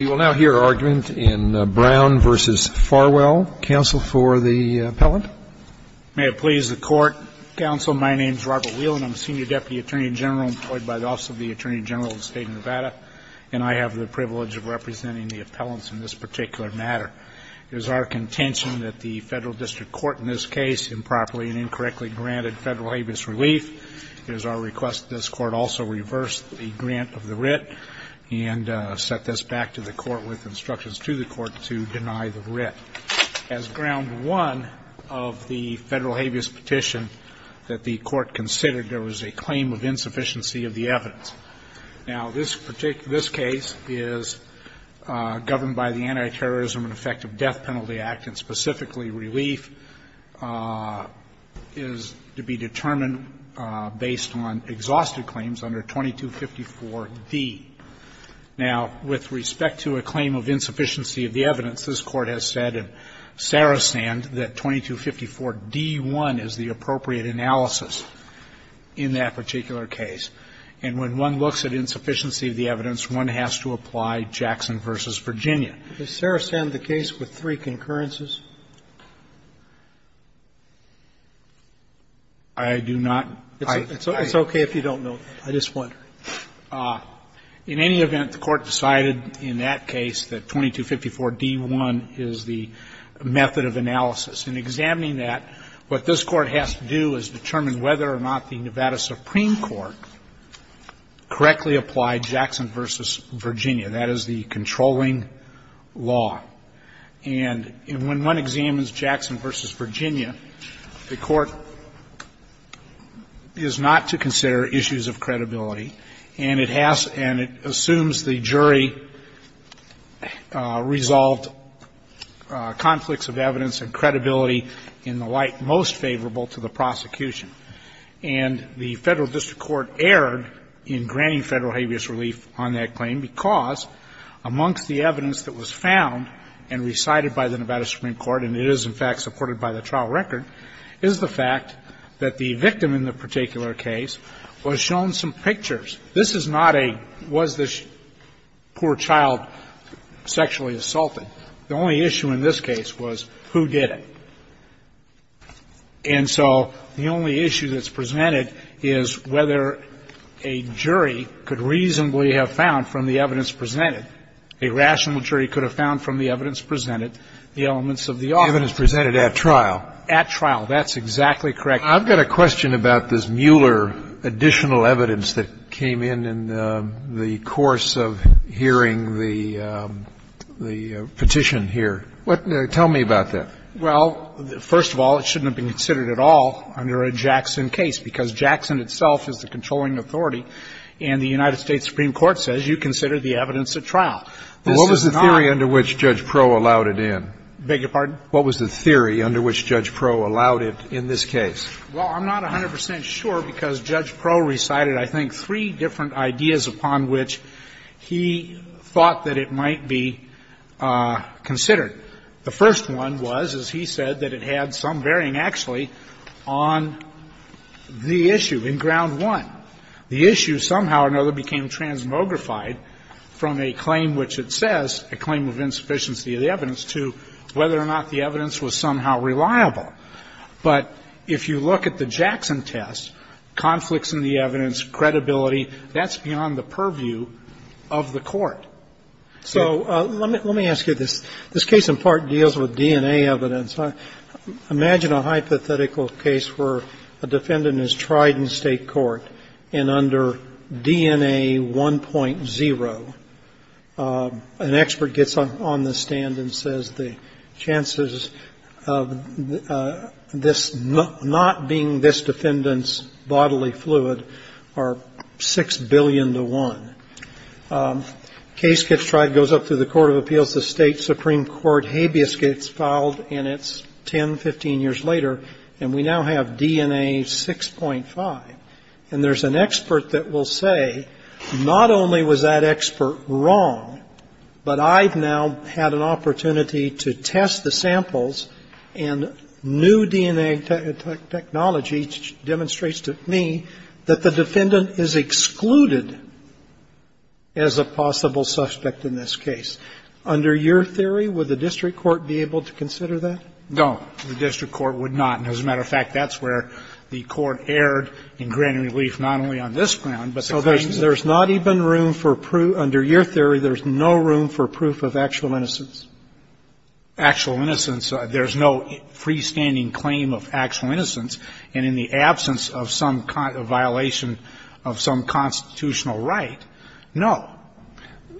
We will now hear argument in Brown v. Farwell. Counsel for the appellant? May it please the Court, Counsel, my name is Robert Wheelan. I'm a senior deputy attorney general employed by the Office of the Attorney General of the State of Nevada, and I have the privilege of representing the appellants in this particular matter. It is our contention that the Federal District Court in this case improperly and incorrectly granted federal habeas relief. It is our request that this Court also reverse the grant of the writ and set this back to the Court with instructions to the Court to deny the writ. As ground one of the federal habeas petition that the Court considered, there was a claim of insufficiency of the evidence. Now, this case is governed by the Anti-Terrorism and Effective Death Penalty Act, and specifically, relief is to be determined based on exhausted claims under 2254d. Now, with respect to a claim of insufficiency of the evidence, this Court has said in Sarastand that 2254d-1 is the appropriate analysis in that particular case. And when one looks at insufficiency of the evidence, one has to apply Jackson v. Virginia. Sotomayor, does Sarastand have the case with three concurrences? I do not. It's okay if you don't know that. I just wonder. In any event, the Court decided in that case that 2254d-1 is the method of analysis. In examining that, what this Court has to do is determine whether or not the Nevada Supreme Court correctly applied Jackson v. Virginia. That is the controlling law. And when one examines Jackson v. Virginia, the Court is not to consider issues of credibility, and it has to assume the jury resolved conflicts of evidence and credibility in the light most favorable to the prosecution. And the Federal District Court erred in granting Federal habeas relief on that claim because amongst the evidence that was found and recited by the Nevada Supreme Court, and it is, in fact, supported by the trial record, is the fact that the victim in the particular case was shown some pictures. This is not a, was this poor child sexually assaulted. The only issue in this case was who did it. And so the only issue that's presented is whether a jury could reasonably have found from the evidence presented, a rational jury could have found from the evidence presented, the elements of the offense. Scalia. The evidence presented at trial. At trial. That's exactly correct. I've got a question about this Mueller additional evidence that came in in the course of hearing the petition here. Tell me about that. Well, first of all, it shouldn't have been considered at all under a Jackson case, because Jackson itself is the controlling authority, and the United States Supreme Court says you consider the evidence at trial. This is not. What was the theory under which Judge Proh allowed it in? Beg your pardon? What was the theory under which Judge Proh allowed it in this case? Well, I'm not 100 percent sure, because Judge Proh recited, I think, three different ideas upon which he thought that it might be considered. The first one was, as he said, that it had some bearing actually on the issue in ground one. The issue somehow or another became transmogrified from a claim which it says, a claim of insufficiency of the evidence, to whether or not the evidence was somehow reliable. But if you look at the Jackson test, conflicts in the evidence, credibility, that's beyond the purview of the Court. So let me ask you this. This case in part deals with DNA evidence. Imagine a hypothetical case where a defendant is tried in state court, and under DNA 1.0, an expert gets on the stand and says the chances of this not being this defendant's bodily fluid are 6 billion to 1. Case gets tried, goes up to the Court of Appeals, the State Supreme Court habeas concord, and the case gets filed, and it's 10, 15 years later, and we now have DNA 6.5, and there's an expert that will say, not only was that expert wrong, but I've now had an opportunity to test the samples, and new DNA technology demonstrates to me that the defendant is excluded as a possible suspect in this case. Under your theory, would the district court be able to consider that? No. The district court would not. And as a matter of fact, that's where the Court erred in granting relief not only on this ground, but the claim that there's not even room for proof. Under your theory, there's no room for proof of actual innocence. Actual innocence. There's no freestanding claim of actual innocence, and in the absence of some violation of some constitutional right, no.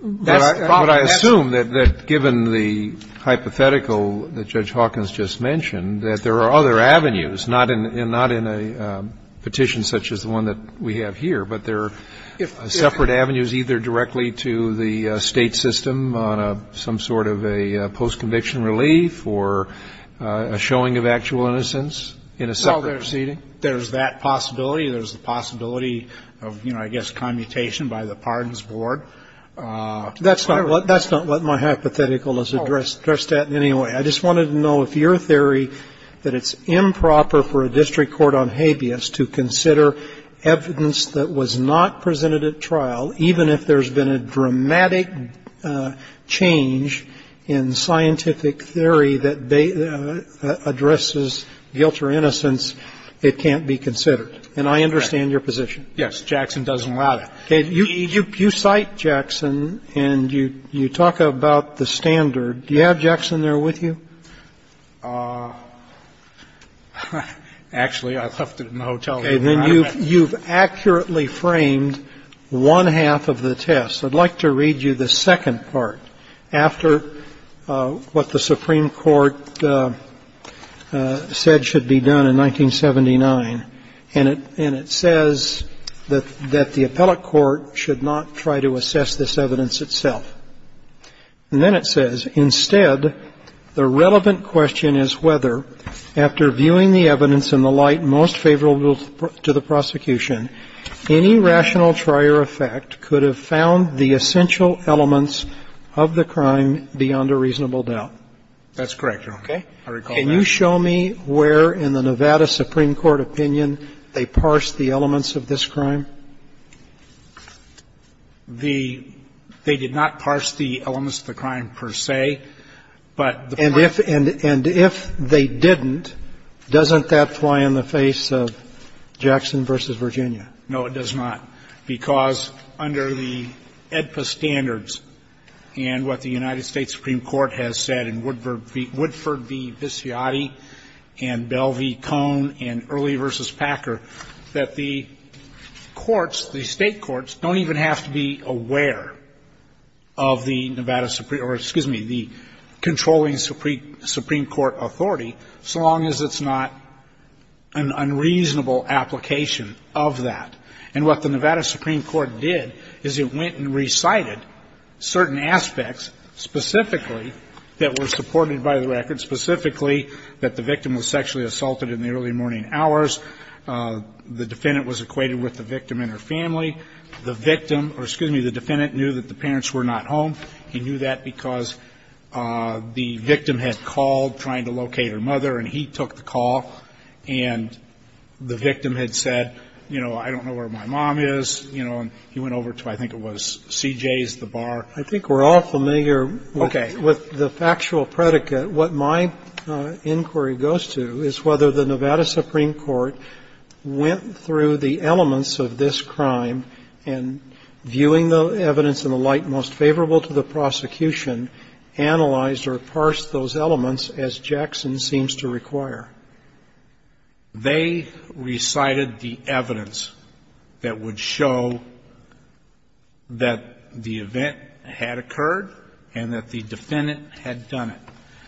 That's the problem. But I assume that given the hypothetical that Judge Hawkins just mentioned, that there are other avenues, not in a petition such as the one that we have here, but there are separate avenues either directly to the State system on some sort of a post-conviction relief or a showing of actual innocence in a separate proceeding? Well, there's that possibility. There's the possibility of, you know, I guess commutation by the pardons board. That's not what my hypothetical is addressed at in any way. I just wanted to know if your theory that it's improper for a district court on habeas to consider evidence that was not presented at trial, even if there's been a dramatic change in scientific theory that addresses guilt or innocence, it can't be considered. And I understand your position. Yes. Jackson doesn't allow that. You cite Jackson, and you talk about the standard. Do you have Jackson there with you? Actually, I left it in the hotel. And then you've accurately framed one half of the test. I'd like to read you the second part after what the Supreme Court said should be done in 1979, and it says that the appellate court should not try to assess this evidence itself. And then it says, Instead, the relevant question is whether, after viewing the evidence in the light most favorable to the prosecution, any rational trier effect could have found the essential elements of the crime beyond a reasonable doubt. That's correct, Your Honor. I recall that. Can you show me where in the Nevada Supreme Court opinion they parsed the elements of this crime? The – they did not parse the elements of the crime per se, but the point is that And if they didn't, doesn't that fly in the face of Jackson v. Virginia? No, it does not, because under the AEDPA standards and what the United States Supreme Court has said in Woodford v. Bisciotti and Bell v. Cone and Early v. Packer, that the courts, the state courts, don't even have to be aware of the Nevada – or excuse me, the controlling Supreme Court authority, so long as it's not an unreasonable application of that. And what the Nevada Supreme Court did is it went and recited certain aspects, specifically, that were supported by the record, specifically, that the victim was sexually assaulted in the early morning hours. The defendant was equated with the victim and her family. The victim – or excuse me, the defendant knew that the parents were not home. He knew that because the victim had called, trying to locate her mother, and he took the call, and the victim had said, you know, I don't know where my mom is, you know, and he went over to, I think it was CJ's, the bar. I think we're all familiar with the factual predicate. What my inquiry goes to is whether the Nevada Supreme Court went through the elements of this crime and, viewing the evidence in the light most favorable to the prosecution, analyzed or parsed those elements as Jackson seems to require. They recited the evidence that would show that the event had occurred and that the defendant had done it.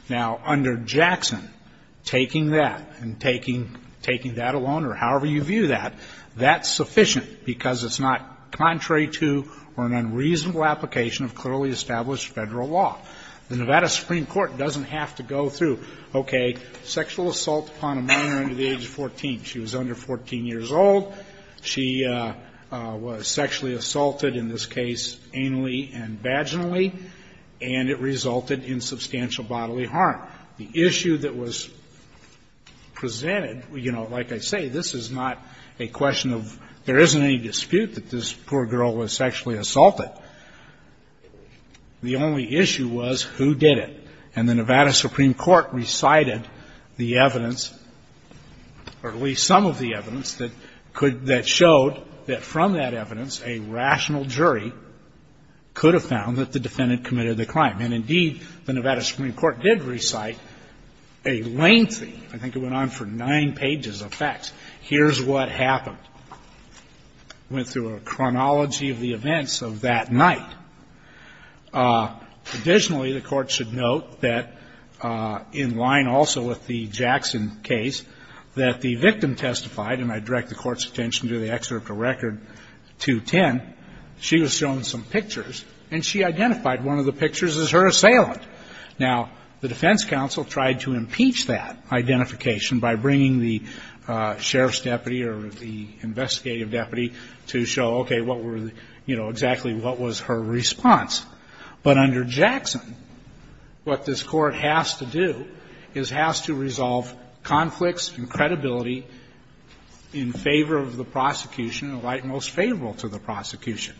Now, under Jackson, taking that and taking that alone, or however you view that, that's sufficient because it's not contrary to or an unreasonable application of clearly established Federal law. The Nevada Supreme Court doesn't have to go through, okay, sexual assault, upon a minor under the age of 14. She was under 14 years old. She was sexually assaulted, in this case, anally and vaginally, and it resulted in substantial bodily harm. The issue that was presented, you know, like I say, this is not a question of there isn't any dispute that this poor girl was sexually assaulted. The only issue was who did it, and the Nevada Supreme Court recited the evidence or at least some of the evidence that could, that showed that from that evidence a rational jury could have found that the defendant committed the crime. And, indeed, the Nevada Supreme Court did recite a lengthy, I think it went on for nine pages of facts, here's what happened. It went through a chronology of the events of that night. Additionally, the Court should note that in line also with the Jackson case, that the victim testified, and I direct the Court's attention to the excerpt of Record 210, she was shown some pictures, and she identified one of the pictures as her assailant. Now, the defense counsel tried to impeach that identification by bringing the sheriff's attorney deputy to show, okay, what were the, you know, exactly what was her response. But under Jackson, what this Court has to do is has to resolve conflicts and credibility in favor of the prosecution, or at most favorable to the prosecution.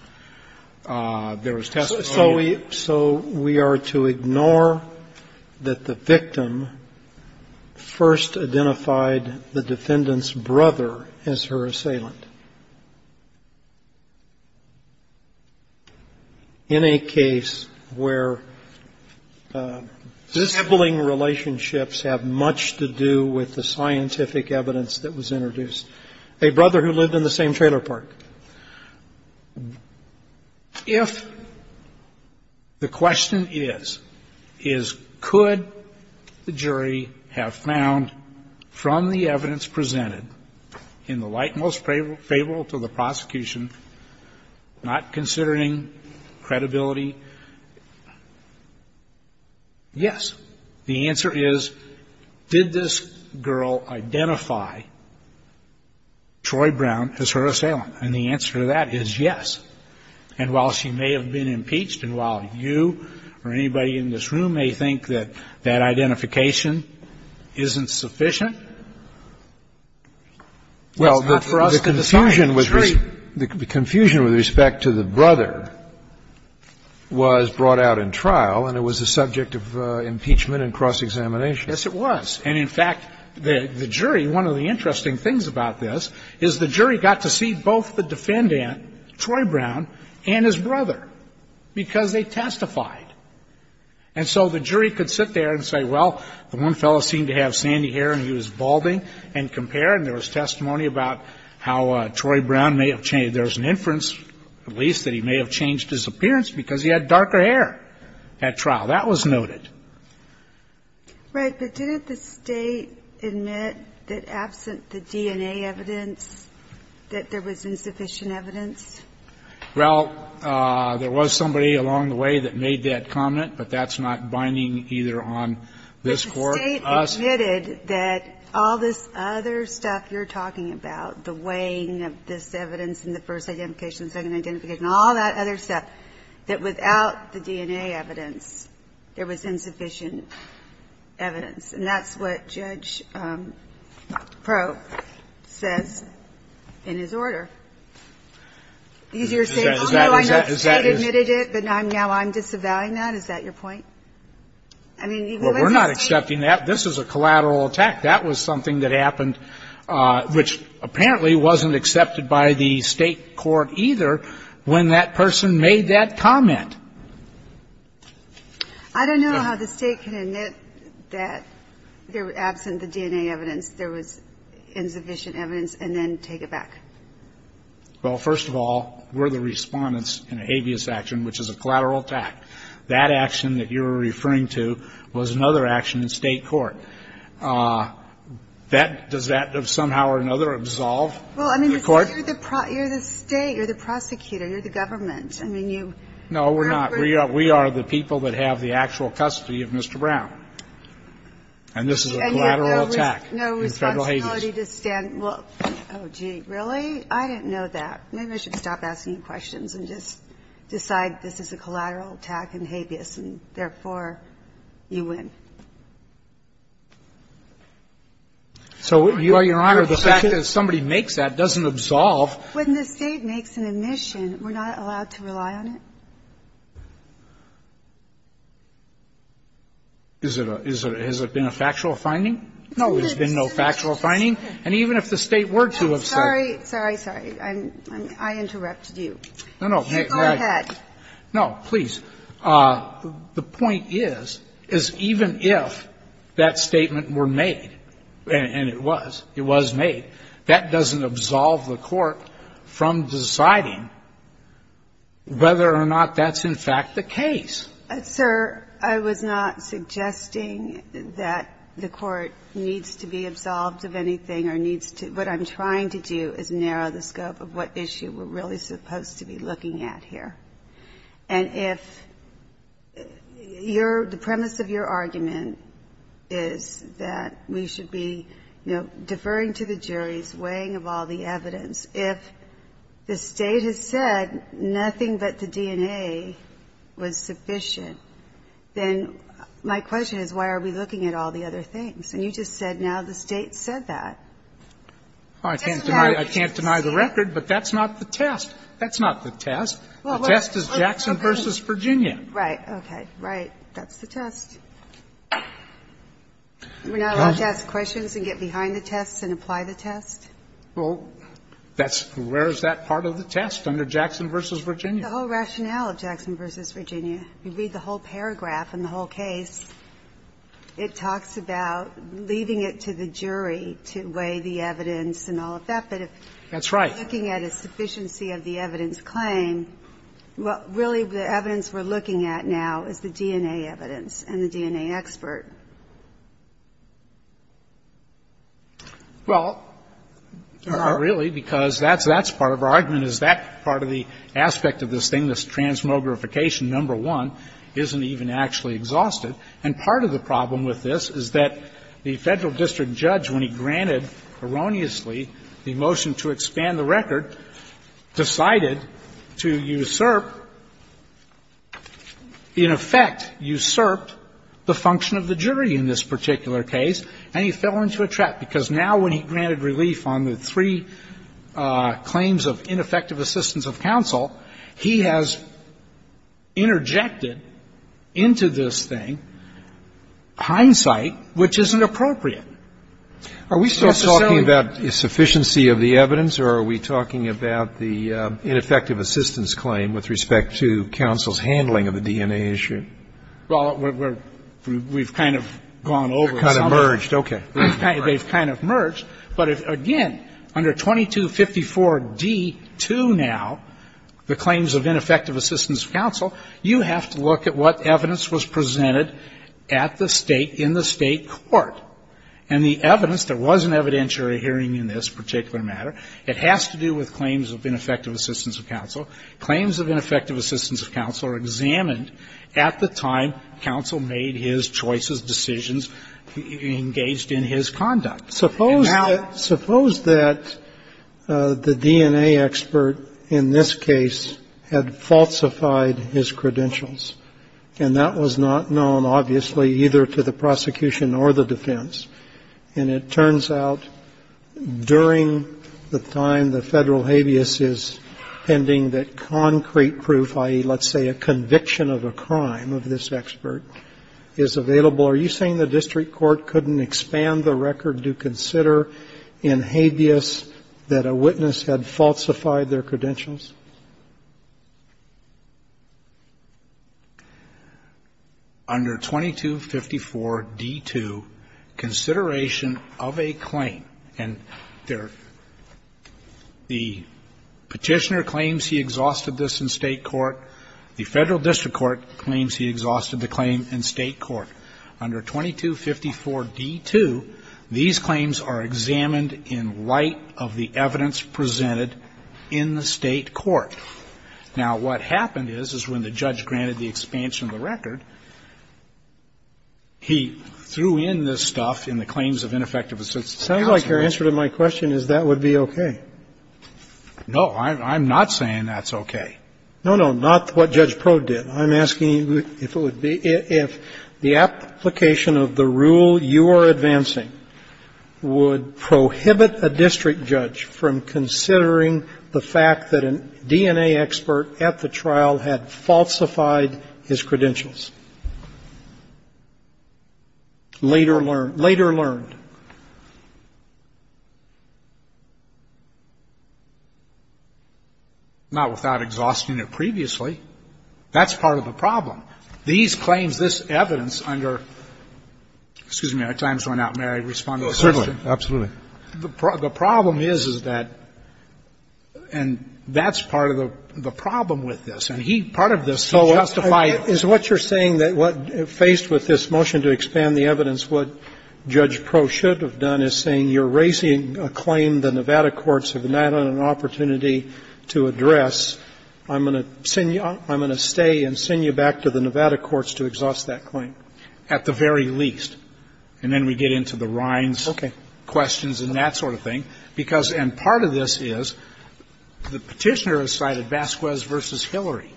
There was testimony of the defendant's brother. The defendant's brother is her assailant in a case where sibling relationships have much to do with the scientific evidence that was introduced. A brother who lived in the same trailer park. If the question is, is could the jury have found from the evidence presented in the light most favorable to the prosecution, not considering credibility, yes. The answer is, did this girl identify Troy Brown as her assailant? And the answer to that is yes. And while she may have been impeached, and while you or anybody in this room may think that that identification isn't sufficient, that's not for us to decide. The jury. The confusion with respect to the brother was brought out in trial, and it was the subject of impeachment and cross-examination. Yes, it was. And in fact, the jury, one of the interesting things about this is the jury got to see both the defendant, Troy Brown, and his brother because they testified. And so the jury could sit there and say, well, the one fellow seemed to have sandy hair, and he was balding, and compare. And there was testimony about how Troy Brown may have changed. There was an inference, at least, that he may have changed his appearance because he had darker hair at trial. That was noted. Right. But didn't the State admit that absent the DNA evidence that there was insufficient evidence? Well, there was somebody along the way that made that comment, but that's not binding either on this Court or us. But the State admitted that all this other stuff you're talking about, the weighing of this evidence in the first identification, second identification, all that other stuff, that without the DNA evidence, there was insufficient evidence. And that's what Judge Proe says in his order. Because you're saying, although I know the State admitted it, but now I'm disavowing that? Is that your point? I mean, even though it's the State. Well, we're not accepting that. This is a collateral attack. That was something that happened, which apparently wasn't accepted by the State court either when that person made that comment. I don't know how the State can admit that absent the DNA evidence there was insufficient evidence and then take it back. Well, first of all, we're the respondents in a habeas action, which is a collateral attack. That action that you were referring to was another action in State court. Does that somehow or another absolve the Court? Well, I mean, you're the State. You're the prosecutor. You're the government. I mean, you remember. No, we're not. We are the people that have the actual custody of Mr. Brown. And this is a collateral attack in federal habeas. Well, gee, really? I didn't know that. Maybe I should stop asking you questions and just decide this is a collateral attack in habeas, and therefore, you win. So, Your Honor, the fact that somebody makes that doesn't absolve. When the State makes an admission, we're not allowed to rely on it? Is it a – has it been a factual finding? No. There's been no factual finding? And even if the State were to have said – Sorry, sorry, sorry. I interrupted you. No, no. Go ahead. No, please. The point is, is even if that statement were made, and it was, it was made, that doesn't absolve the Court from deciding whether or not that's in fact the case. Sir, I was not suggesting that the Court needs to be absolved of anything or needs to – what I'm trying to do is narrow the scope of what issue we're really supposed to be looking at here. And if your – the premise of your argument is that we should be, you know, deferring to the juries, weighing of all the evidence, if the State has said nothing but the State's admission, then my question is, why are we looking at all the other things? And you just said now the State said that. I can't deny the record, but that's not the test. That's not the test. The test is Jackson v. Virginia. Right. Okay. Right. That's the test. We're not allowed to ask questions and get behind the tests and apply the test? Well, that's – where is that part of the test under Jackson v. Virginia? The whole rationale of Jackson v. Virginia. You read the whole paragraph in the whole case. It talks about leaving it to the jury to weigh the evidence and all of that. That's right. But if we're looking at a sufficiency of the evidence claim, really the evidence we're looking at now is the DNA evidence and the DNA expert. Well, really, because that's part of our argument. Part of our argument is that part of the aspect of this thing, this transmogrification, number one, isn't even actually exhausted. And part of the problem with this is that the Federal district judge, when he granted erroneously the motion to expand the record, decided to usurp, in effect, usurp the function of the jury in this particular case, and he fell into a trap, because now when he granted relief on the three claims of ineffective assistance of counsel, he has interjected into this thing hindsight which isn't appropriate. Are we still talking about sufficiency of the evidence, or are we talking about the ineffective assistance claim with respect to counsel's handling of the DNA issue? Well, we're – we've kind of gone over some of it. Kind of merged. Okay. They've kind of merged. But again, under 2254d2 now, the claims of ineffective assistance of counsel, you have to look at what evidence was presented at the State, in the State court. And the evidence that wasn't evidentiary hearing in this particular matter, it has to do with claims of ineffective assistance of counsel. Claims of ineffective assistance of counsel are examined at the time counsel made his choices, decisions, engaged in his conduct. Suppose that – suppose that the DNA expert in this case had falsified his credentials, and that was not known, obviously, either to the prosecution or the defense. And it turns out during the time the Federal habeas is pending that concrete proof, i.e., let's say a conviction of a crime of this expert, is available. Are you saying the district court couldn't expand the record to consider in habeas that a witness had falsified their credentials? Under 2254d2, consideration of a claim, and there – the Petitioner claims he exhausted this in State court. The Federal district court claims he exhausted the claim in State court. Under 2254d2, these claims are examined in light of the evidence presented in the State court. Now, what happened is, is when the judge granted the expansion of the record, he threw in this stuff in the claims of ineffective assistance of counsel. Sounds like your answer to my question is that would be okay. No, I'm not saying that's okay. No, no. Not what Judge Prod did. I'm asking if it would be – if the application of the rule you are advancing would prohibit a district judge from considering the fact that a DNA expert at the trial had falsified his credentials. Later learned. Later learned. Not without exhausting it previously. That's part of the problem. These claims, this evidence under – excuse me. Our time is running out. May I respond to the question? Certainly. Absolutely. The problem is, is that – and that's part of the problem with this. And he – part of this, he justified it. Is what you're saying that what – faced with this motion to expand the evidence, what Judge Pro should have done is saying you're raising a claim the Nevada courts have not had an opportunity to address. I'm going to send you – I'm going to stay and send you back to the Nevada courts to exhaust that claim. At the very least. And then we get into the Rhines questions and that sort of thing. Because – and part of this is the Petitioner has cited Vasquez v. Hillary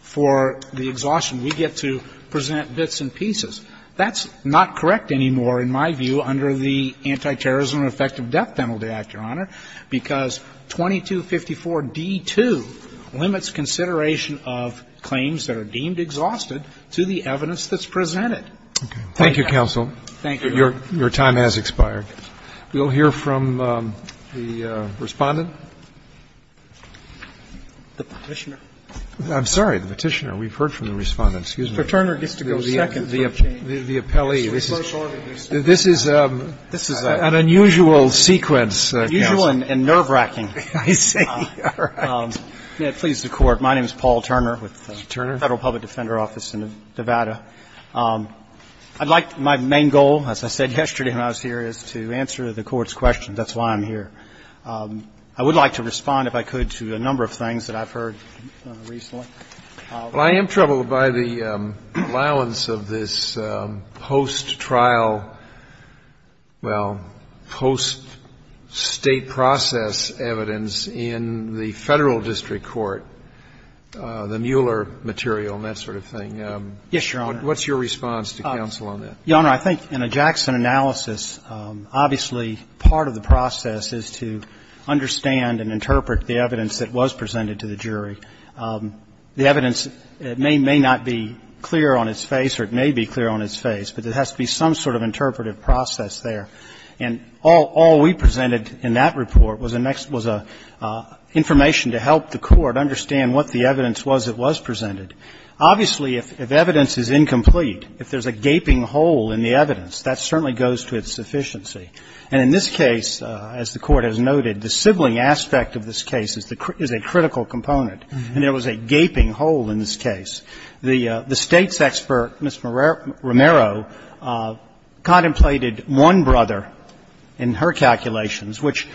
for the exhaustion. We get to present bits and pieces. That's not correct anymore in my view under the Antiterrorism and Effective Death Penalty Act, Your Honor, because 2254d2 limits consideration of claims that are deemed exhausted to the evidence that's presented. Thank you. Thank you, counsel. Thank you. Your time has expired. We'll hear from the Respondent. The Petitioner. I'm sorry. The Petitioner. We've heard from the Respondent. Excuse me. Mr. Turner gets to go second. The appellee. This is an unusual sequence, counsel. Unusual and nerve-wracking. I see. All right. May it please the Court. My name is Paul Turner with the Federal Public Defender Office in Nevada. I'd like my main goal, as I said yesterday when I was here, is to answer the Court's questions. That's why I'm here. I would like to respond, if I could, to a number of things that I've heard recently. Well, I am troubled by the allowance of this post-trial, well, post-State process evidence in the Federal district court, the Mueller material and that sort of thing. Yes, Your Honor. What's your response to counsel on that? Your Honor, I think in a Jackson analysis, obviously part of the process is to understand and interpret the evidence that was presented to the jury. The evidence may not be clear on its face or it may be clear on its face, but there has to be some sort of interpretive process there. And all we presented in that report was information to help the Court understand what the evidence was that was presented. Obviously, if evidence is incomplete, if there's a gaping hole in the evidence, that certainly goes to its sufficiency. And in this case, as the Court has noted, the sibling aspect of this case is a critical component, and there was a gaping hole in this case. The State's expert, Ms. Romero, contemplated one brother in her calculations, which,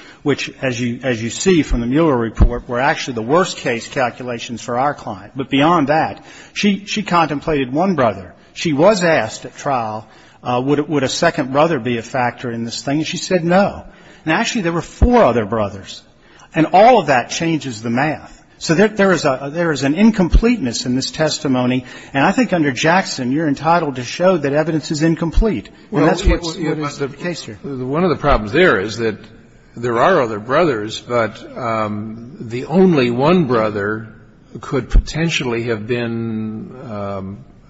as you see from the Mueller report, were actually the worst-case calculations for our client. But beyond that, she contemplated one brother. She was asked at trial, would a second brother be a factor in this thing, and she said no. And actually, there were four other brothers. And all of that changes the math. So there is an incompleteness in this testimony. And I think under Jackson, you're entitled to show that evidence is incomplete. And that's what must be the case here. One of the problems there is that there are other brothers, but the only one brother could potentially have been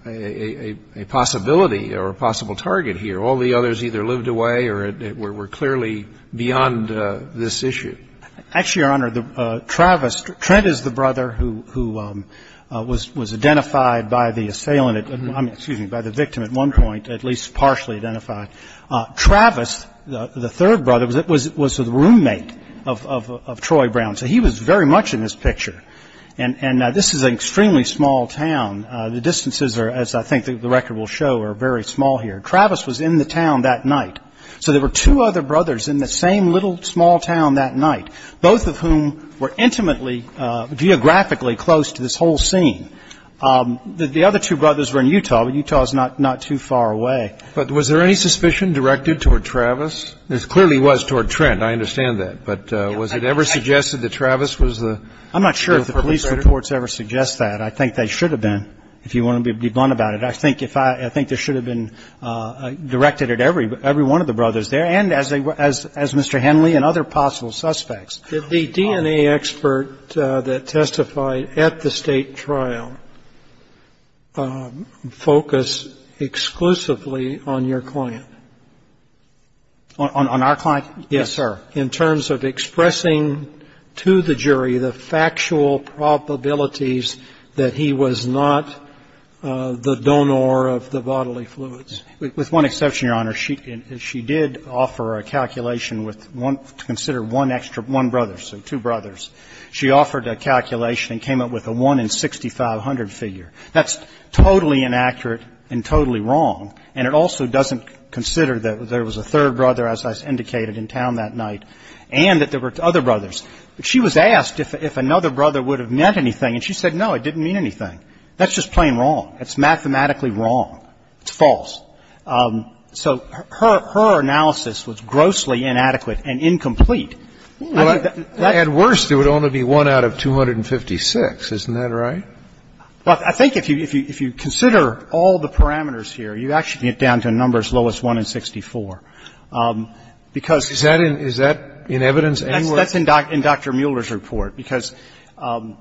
a possibility or a possible target here. All the others either lived away or were clearly beyond this issue. Actually, Your Honor, Travis, Trent is the brother who was identified by the assailant by the victim at one point, at least partially identified. Travis, the third brother, was the roommate of Troy Brown. So he was very much in this picture. And this is an extremely small town. The distances are, as I think the record will show, are very small here. Travis was in the town that night. So there were two other brothers in the same little, small town that night, both of whom were intimately, geographically close to this whole scene. The other two brothers were in Utah, but Utah is not too far away. But was there any suspicion directed toward Travis? There clearly was toward Trent. I understand that. But was it ever suggested that Travis was the perpetrator? I'm not sure if the police reports ever suggest that. I think they should have been, if you want to be blunt about it. I think there should have been directed at every one of the brothers there and as Mr. Henley and other possible suspects. Did the DNA expert that testified at the State trial focus exclusively on your client? On our client? Yes, sir. In terms of expressing to the jury the factual probabilities that he was not the donor With one exception, Your Honor. She did offer a calculation to consider one brother, so two brothers. She offered a calculation and came up with a 1 in 6,500 figure. That's totally inaccurate and totally wrong, and it also doesn't consider that there was a third brother, as I indicated, in town that night, and that there were other brothers. But she was asked if another brother would have meant anything, and she said, no, it didn't mean anything. It's mathematically wrong. It's false. So her analysis was grossly inadequate and incomplete. At worst, it would only be 1 out of 256. Isn't that right? Well, I think if you consider all the parameters here, you actually get down to numbers lowest 1 in 64, because Is that in evidence anywhere? That's in Dr. Mueller's report, because, and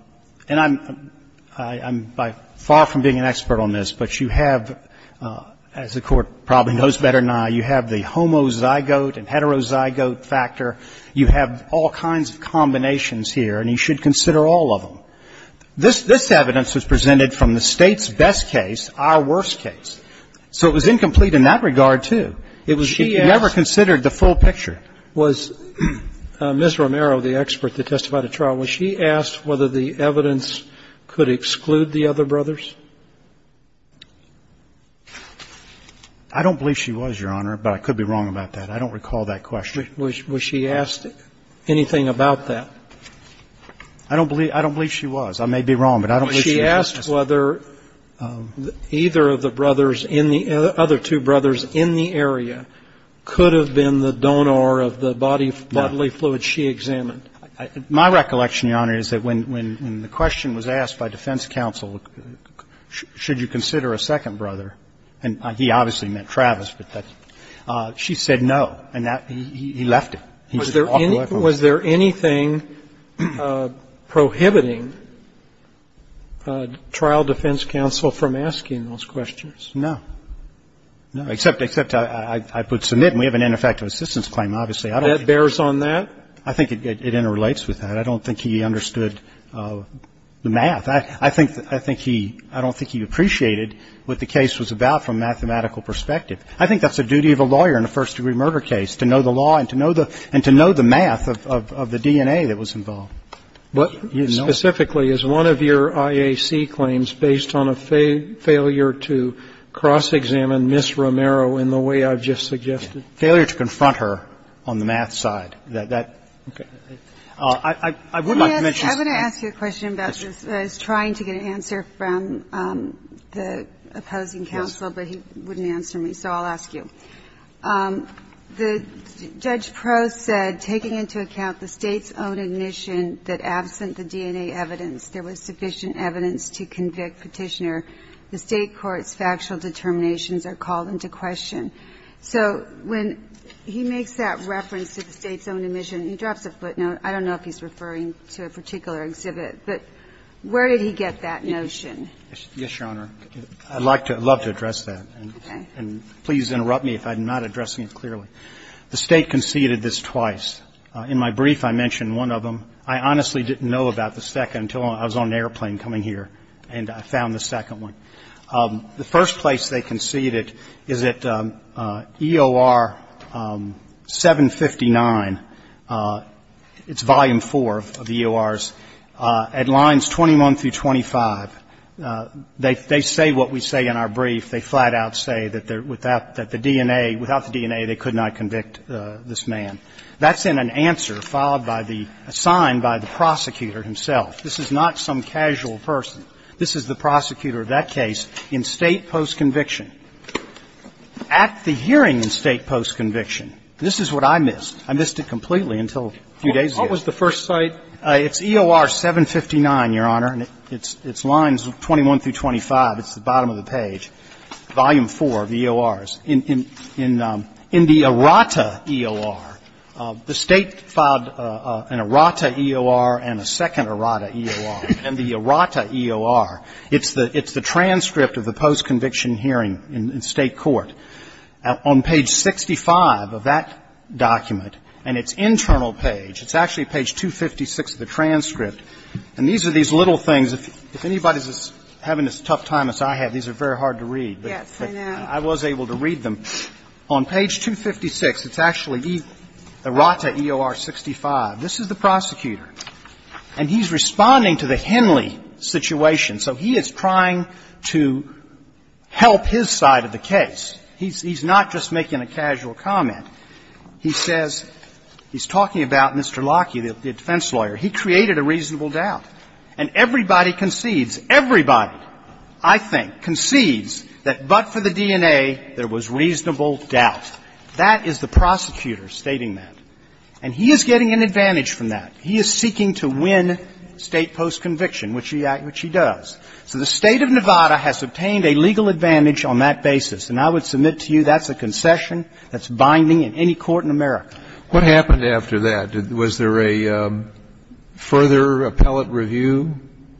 I'm far from being an expert on this, but you have, as the Court probably knows better now, you have the homozygote and heterozygote factor. You have all kinds of combinations here, and you should consider all of them. This evidence was presented from the State's best case, our worst case. So it was incomplete in that regard, too. If you ever considered the full picture. Was Ms. Romero, the expert that testified at trial, was she asked whether the evidence could exclude the other brothers? I don't believe she was, Your Honor, but I could be wrong about that. I don't recall that question. Was she asked anything about that? I don't believe she was. I may be wrong, but I don't believe she was asked. Was she asked whether either of the brothers in the other two brothers in the area could have been the donor of the bodily fluid she examined? My recollection, Your Honor, is that when the question was asked by defense counsel, should you consider a second brother, and he obviously meant Travis, but she said no, and he left it. He just walked away from it. Was there anything prohibiting trial defense counsel from asking those questions? No. No. Except I put submit, and we have an ineffective assistance claim, obviously. That bears on that? I think it interrelates with that. I don't think he understood the math. I think he – I don't think he appreciated what the case was about from a mathematical perspective. I think that's the duty of a lawyer in a first-degree murder case, to know the law and to know the math of the DNA that was involved. But specifically, is one of your IAC claims based on a failure to cross-examine Ms. Romero in the way I've just suggested? Failure to confront her on the math side. That – I would like to mention – I want to ask you a question about this. I was trying to get an answer from the opposing counsel, but he wouldn't answer me, so I'll ask you. The judge pro said, taking into account the State's own admission that absent the DNA evidence there was sufficient evidence to convict Petitioner, the State court's factual determinations are called into question. So when he makes that reference to the State's own admission, he drops a footnote. I don't know if he's referring to a particular exhibit, but where did he get that notion? Yes, Your Honor. I'd like to – I'd love to address that. Okay. And please interrupt me if I'm not addressing it clearly. The State conceded this twice. In my brief, I mentioned one of them. I honestly didn't know about the second until I was on an airplane coming here, and I found the second one. The first place they conceded is at EOR 759. It's volume 4 of the EORs. At lines 21 through 25, they say what we say in our brief. They flat out say that without the DNA, they could not convict this man. That's in an answer followed by the – assigned by the prosecutor himself. This is not some casual person. This is the prosecutor of that case in State post-conviction. At the hearing in State post-conviction, this is what I missed. I missed it completely until a few days ago. What was the first site? It's EOR 759, Your Honor, and it's lines 21 through 25. It's the bottom of the page, volume 4 of the EORs. In the errata EOR, the State filed an errata EOR and a second errata EOR, and the errata EOR, it's the transcript of the post-conviction hearing in State court. On page 65 of that document, and its internal page, it's actually page 256 of the transcript, and these are these little things. If anybody's having as tough time as I have, these are very hard to read. Yes, I know. I was able to read them. On page 256, it's actually errata EOR 65. This is the prosecutor. And he's responding to the Henley situation. So he is trying to help his side of the case. He's not just making a casual comment. He says, he's talking about Mr. Lockheed, the defense lawyer. He created a reasonable doubt. And everybody concedes, everybody, I think, concedes that but for the DNA, there was reasonable doubt. That is the prosecutor stating that. And he is getting an advantage from that. He is seeking to win State post-conviction, which he does. So the State of Nevada has obtained a legal advantage on that basis. And I would submit to you that's a concession that's binding in any court in America. What happened after that? Was there a further appellate review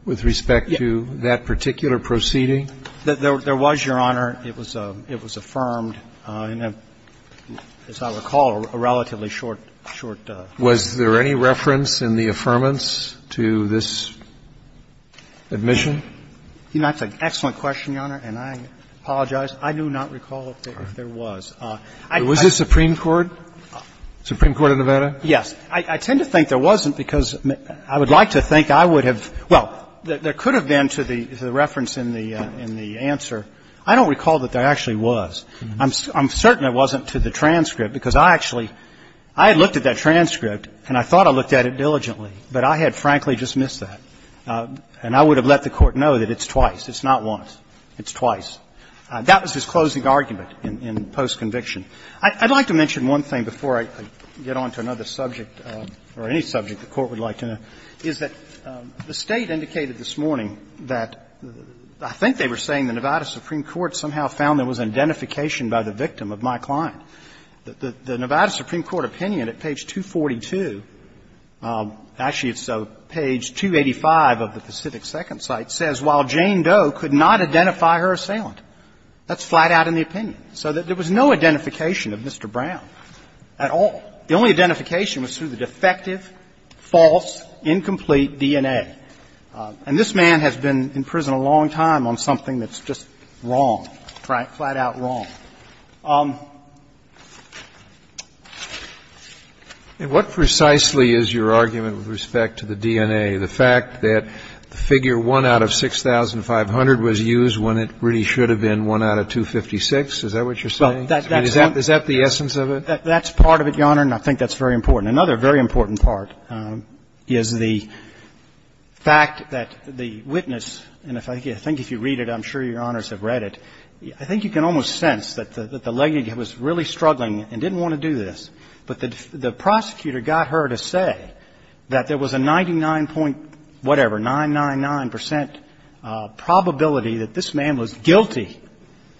with respect to that particular proceeding? There was, Your Honor. It was affirmed in a, as I recall, a relatively short time. Was there any reference in the affirmance to this admission? That's an excellent question, Your Honor. And I apologize. I do not recall if there was. Was it Supreme Court? Supreme Court of Nevada? Yes. I tend to think there wasn't because I would like to think I would have, well, there could have been to the reference in the answer. I don't recall that there actually was. I'm certain it wasn't to the transcript because I actually, I had looked at that transcript and I thought I looked at it diligently, but I had frankly just missed that. And I would have let the Court know that it's twice. It's not once. It's twice. That was his closing argument in post-conviction. I'd like to mention one thing before I get on to another subject or any subject the Court would like to know, is that the State indicated this morning that I think they were saying the Nevada Supreme Court somehow found there was an identification by the victim of my client, that the Nevada Supreme Court opinion at page 242, actually it's page 285 of the Pacific Second Cite, says, while Jane Doe could not identify her assailant. That's flat out in the opinion. So there was no identification of Mr. Brown at all. The only identification was through the defective, false, incomplete DNA. And this man has been in prison a long time on something that's just wrong, flat out wrong. And what precisely is your argument with respect to the DNA? The fact that the figure 1 out of 6,500 was used when it really should have been 1 out of 256? Is that what you're saying? Is that the essence of it? That's part of it, Your Honor, and I think that's very important. Another very important part is the fact that the witness, and I think if you read it, I'm sure Your Honors have read it, I think you can almost sense that the lady was really struggling and didn't want to do this, but the prosecutor got her to say that there was a 99 point whatever, 999 percent probability that this man was guilty,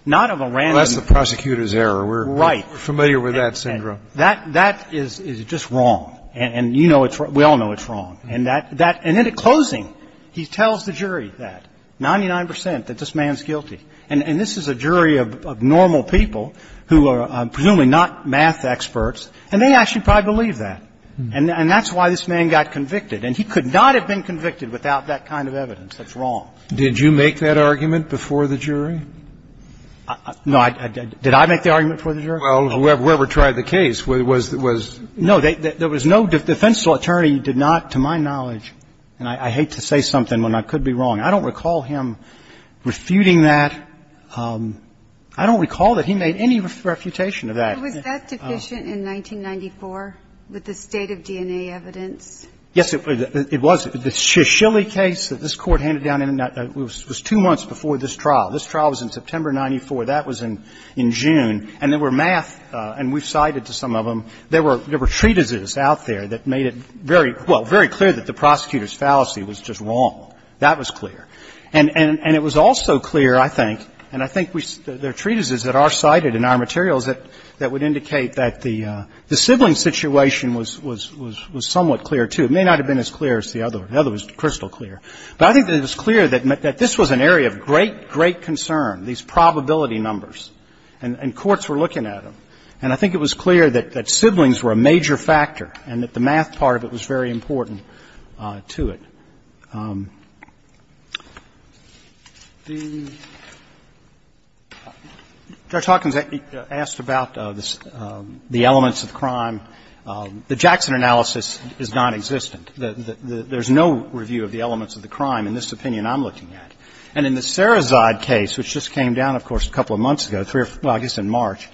not of a random. Well, that's the prosecutor's error. Right. We're familiar with that syndrome. That is just wrong. And you know it's wrong. We all know it's wrong. And that – and in closing, he tells the jury that, 99 percent, that this man is guilty. And this is a jury of normal people who are presumably not math experts, and they actually probably believe that. And that's why this man got convicted. And he could not have been convicted without that kind of evidence. That's wrong. Did you make that argument before the jury? No, I didn't. Did I make the argument before the jury? Well, whoever tried the case was – was – No. There was no – the defense attorney did not, to my knowledge, and I hate to say something when I could be wrong. I don't recall him refuting that. I don't recall that he made any refutation of that. Was that deficient in 1994 with the state of DNA evidence? Yes, it was. The Shishilli case that this Court handed down was two months before this trial. This trial was in September of 94. That was in June. And there were math – and we cited to some of them – there were treatises out there that made it very – well, very clear that the prosecutor's fallacy was just wrong. That was clear. And it was also clear, I think – and I think there are treatises that are cited in our materials that would indicate that the sibling situation was somewhat clear, too. It may not have been as clear as the other. The other was crystal clear. But I think that it was clear that this was an area of great, great concern, these probability numbers. And courts were looking at them. And I think it was clear that siblings were a major factor and that the math part of it was very important to it. Judge Hawkins asked about the elements of crime. The Jackson analysis is nonexistent. There's no review of the elements of the crime in this opinion I'm looking at. And in the Sarazade case, which just came down, of course, a couple of months ago, well, I guess in March,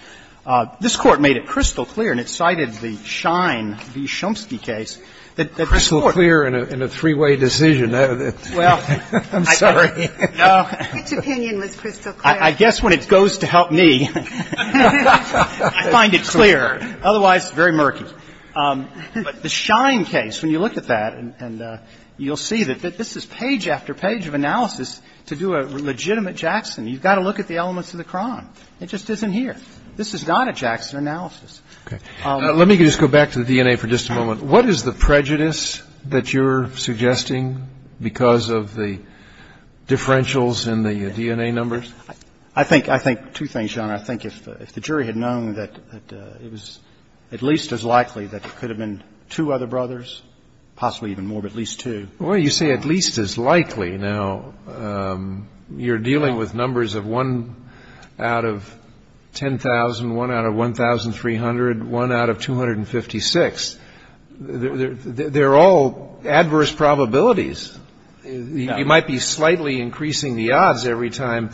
this Court made it crystal clear and it cited the Shine v. Shumsky case that this Court – Crystal clear in a three-way decision. I'm sorry. No. Which opinion was crystal clear? I guess when it goes to help me, I find it clear. Otherwise, very murky. But the Shine case, when you look at that and you'll see that this is page after page of analysis to do a legitimate Jackson, you've got to look at the elements of the crime. It just isn't here. This is not a Jackson analysis. Okay. Let me just go back to the DNA for just a moment. What is the prejudice that you're suggesting because of the differentials in the DNA numbers? I think two things, Your Honor. I think if the jury had known that it was at least as likely that it could have been two other brothers, possibly even more, but at least two. Well, you say at least as likely. Now, you're dealing with numbers of 1 out of 10,000, 1 out of 1,300, 1 out of 256. They're all adverse probabilities. You might be slightly increasing the odds every time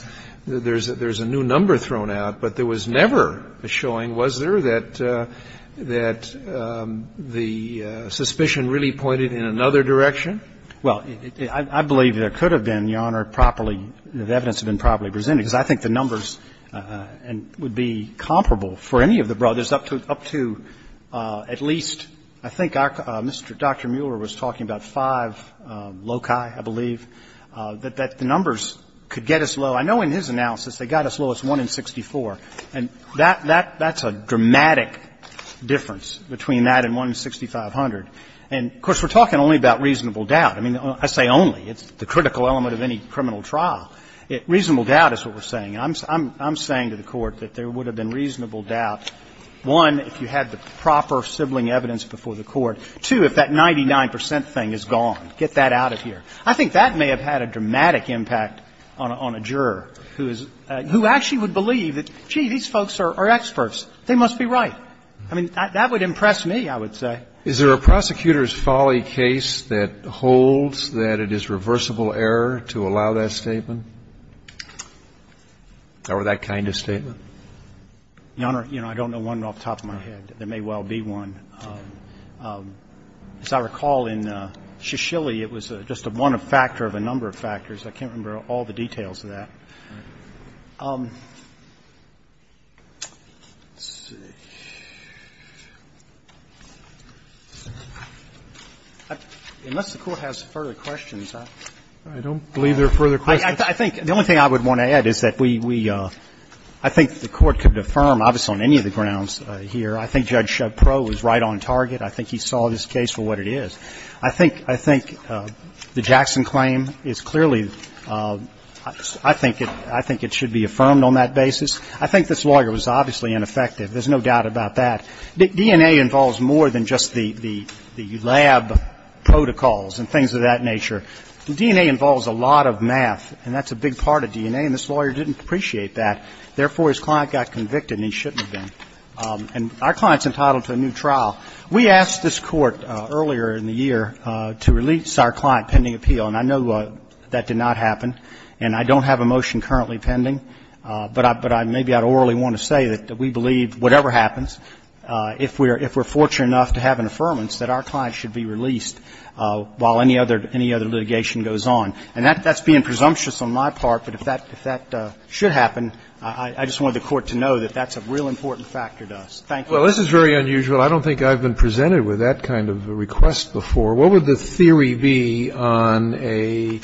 there's a new number thrown out, but there was never a showing, was there, that the suspicion really pointed in another direction? Well, I believe there could have been, Your Honor, properly the evidence had been properly presented because I think the numbers would be comparable for any of the brothers up to at least, I think Dr. Mueller was talking about five loci, I believe, that the numbers could get as low. I know in his analysis they got as low as 1 in 64, and that's a dramatic difference between that and 1 in 6,500. And, of course, we're talking only about reasonable doubt. I mean, I say only. It's the critical element of any criminal trial. Reasonable doubt is what we're saying. I'm saying to the Court that there would have been reasonable doubt, one, if you had the proper sibling evidence before the Court, two, if that 99 percent thing is gone. Get that out of here. I think that may have had a dramatic impact on a juror who is – who actually would believe that, gee, these folks are experts. They must be right. I mean, that would impress me, I would say. Is there a prosecutor's folly case that holds that it is reversible error to allow that statement? Or that kind of statement? Your Honor, you know, I don't know one off the top of my head. There may well be one. As I recall in Shishilly, it was just a one factor of a number of factors. I can't remember all the details of that. Let's see. Unless the Court has further questions, I don't believe there are further questions. I think the only thing I would want to add is that we – I think the Court could affirm, obviously on any of the grounds here, I think Judge Shapro was right on target. I think he saw this case for what it is. I think – I think the Jackson claim is clearly – I think it – I think it should be affirmed on that basis. I think this lawyer was obviously ineffective. There's no doubt about that. DNA involves more than just the lab protocols and things of that nature. DNA involves a lot of math, and that's a big part of DNA, and this lawyer didn't appreciate that. Therefore, his client got convicted, and he shouldn't have been. And our client's entitled to a new trial. We asked this Court earlier in the year to release our client pending appeal, and I know that did not happen. And I don't have a motion currently pending, but I – but I – maybe I'd orally want to say that we believe whatever happens, if we're – if we're fortunate enough to have an affirmance that our client should be released while any other litigation goes on. And that's being presumptuous on my part, but if that should happen, I just wanted the Court to know that that's a real important factor to us. Thank you. Well, this is very unusual. I don't think I've been presented with that kind of request before. What would the theory be on a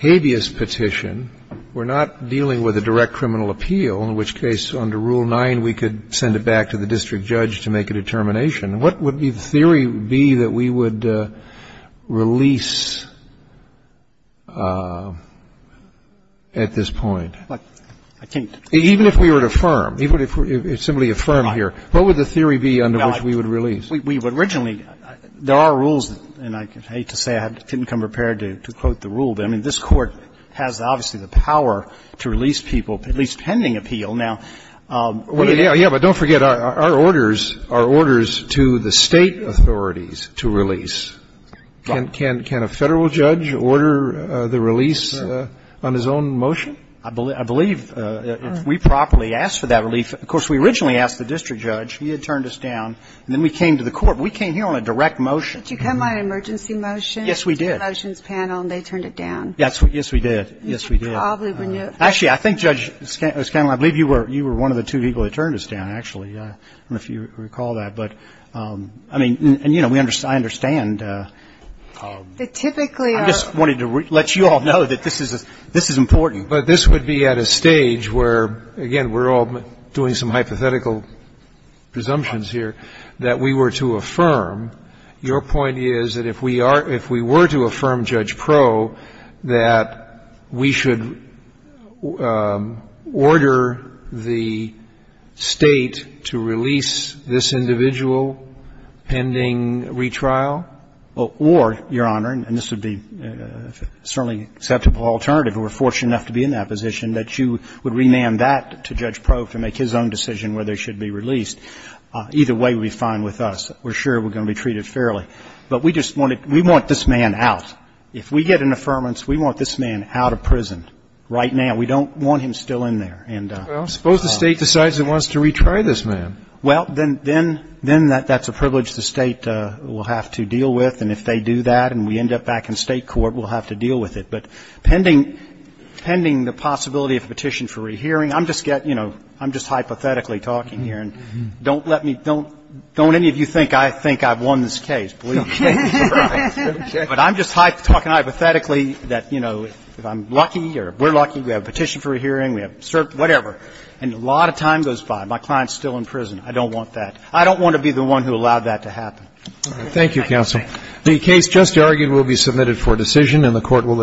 habeas petition? We're not dealing with a direct criminal appeal, in which case under Rule 9 we could send it back to the district judge to make a determination. What would the theory be that we would release at this point? I can't. Even if we were to affirm, even if it's simply affirmed here, what would the theory be under which we would release? We would originally – there are rules, and I hate to say I didn't come prepared to quote the rule, but I mean, this Court has, obviously, the power to release people, at least pending appeal. Yeah, but don't forget, our orders are orders to the State authorities to release. Can a Federal judge order the release on his own motion? I believe, if we properly ask for that relief, of course, we originally asked the district judge. He had turned us down. And then we came to the Court. We came here on a direct motion. Did you come on an emergency motion? Yes, we did. It's the motions panel, and they turned it down. Yes, we did. Yes, we did. Actually, I think, Judge Scanlon, I believe you were one of the two people that turned us down, actually. I don't know if you recall that. But, I mean, and, you know, I understand. They typically are. I just wanted to let you all know that this is important. But this would be at a stage where, again, we're all doing some hypothetical presumptions here, that we were to affirm. Your point is that if we are to affirm, Judge Pro, that we should order the State to release this individual pending retrial? Well, or, Your Honor, and this would be certainly an acceptable alternative. We're fortunate enough to be in that position that you would remand that to Judge Pro to make his own decision whether he should be released. Either way would be fine with us. We're sure we're going to be treated fairly. But we just wanted, we want this man out. If we get an affirmance, we want this man out of prison right now. We don't want him still in there. Well, suppose the State decides it wants to retry this man. Well, then that's a privilege the State will have to deal with. And if they do that and we end up back in State court, we'll have to deal with it. But pending, pending the possibility of a petition for rehearing, I'm just, you know, I'm just hypothetically talking here. And don't let me, don't, don't any of you think I think I've won this case. Believe me. But I'm just talking hypothetically that, you know, if I'm lucky or we're lucky, we have a petition for a hearing, we have cert, whatever. And a lot of time goes by. My client's still in prison. I don't want that. I don't want to be the one who allowed that to happen. Thank you, counsel. The case just argued will be submitted for decision and the Court will adjourn.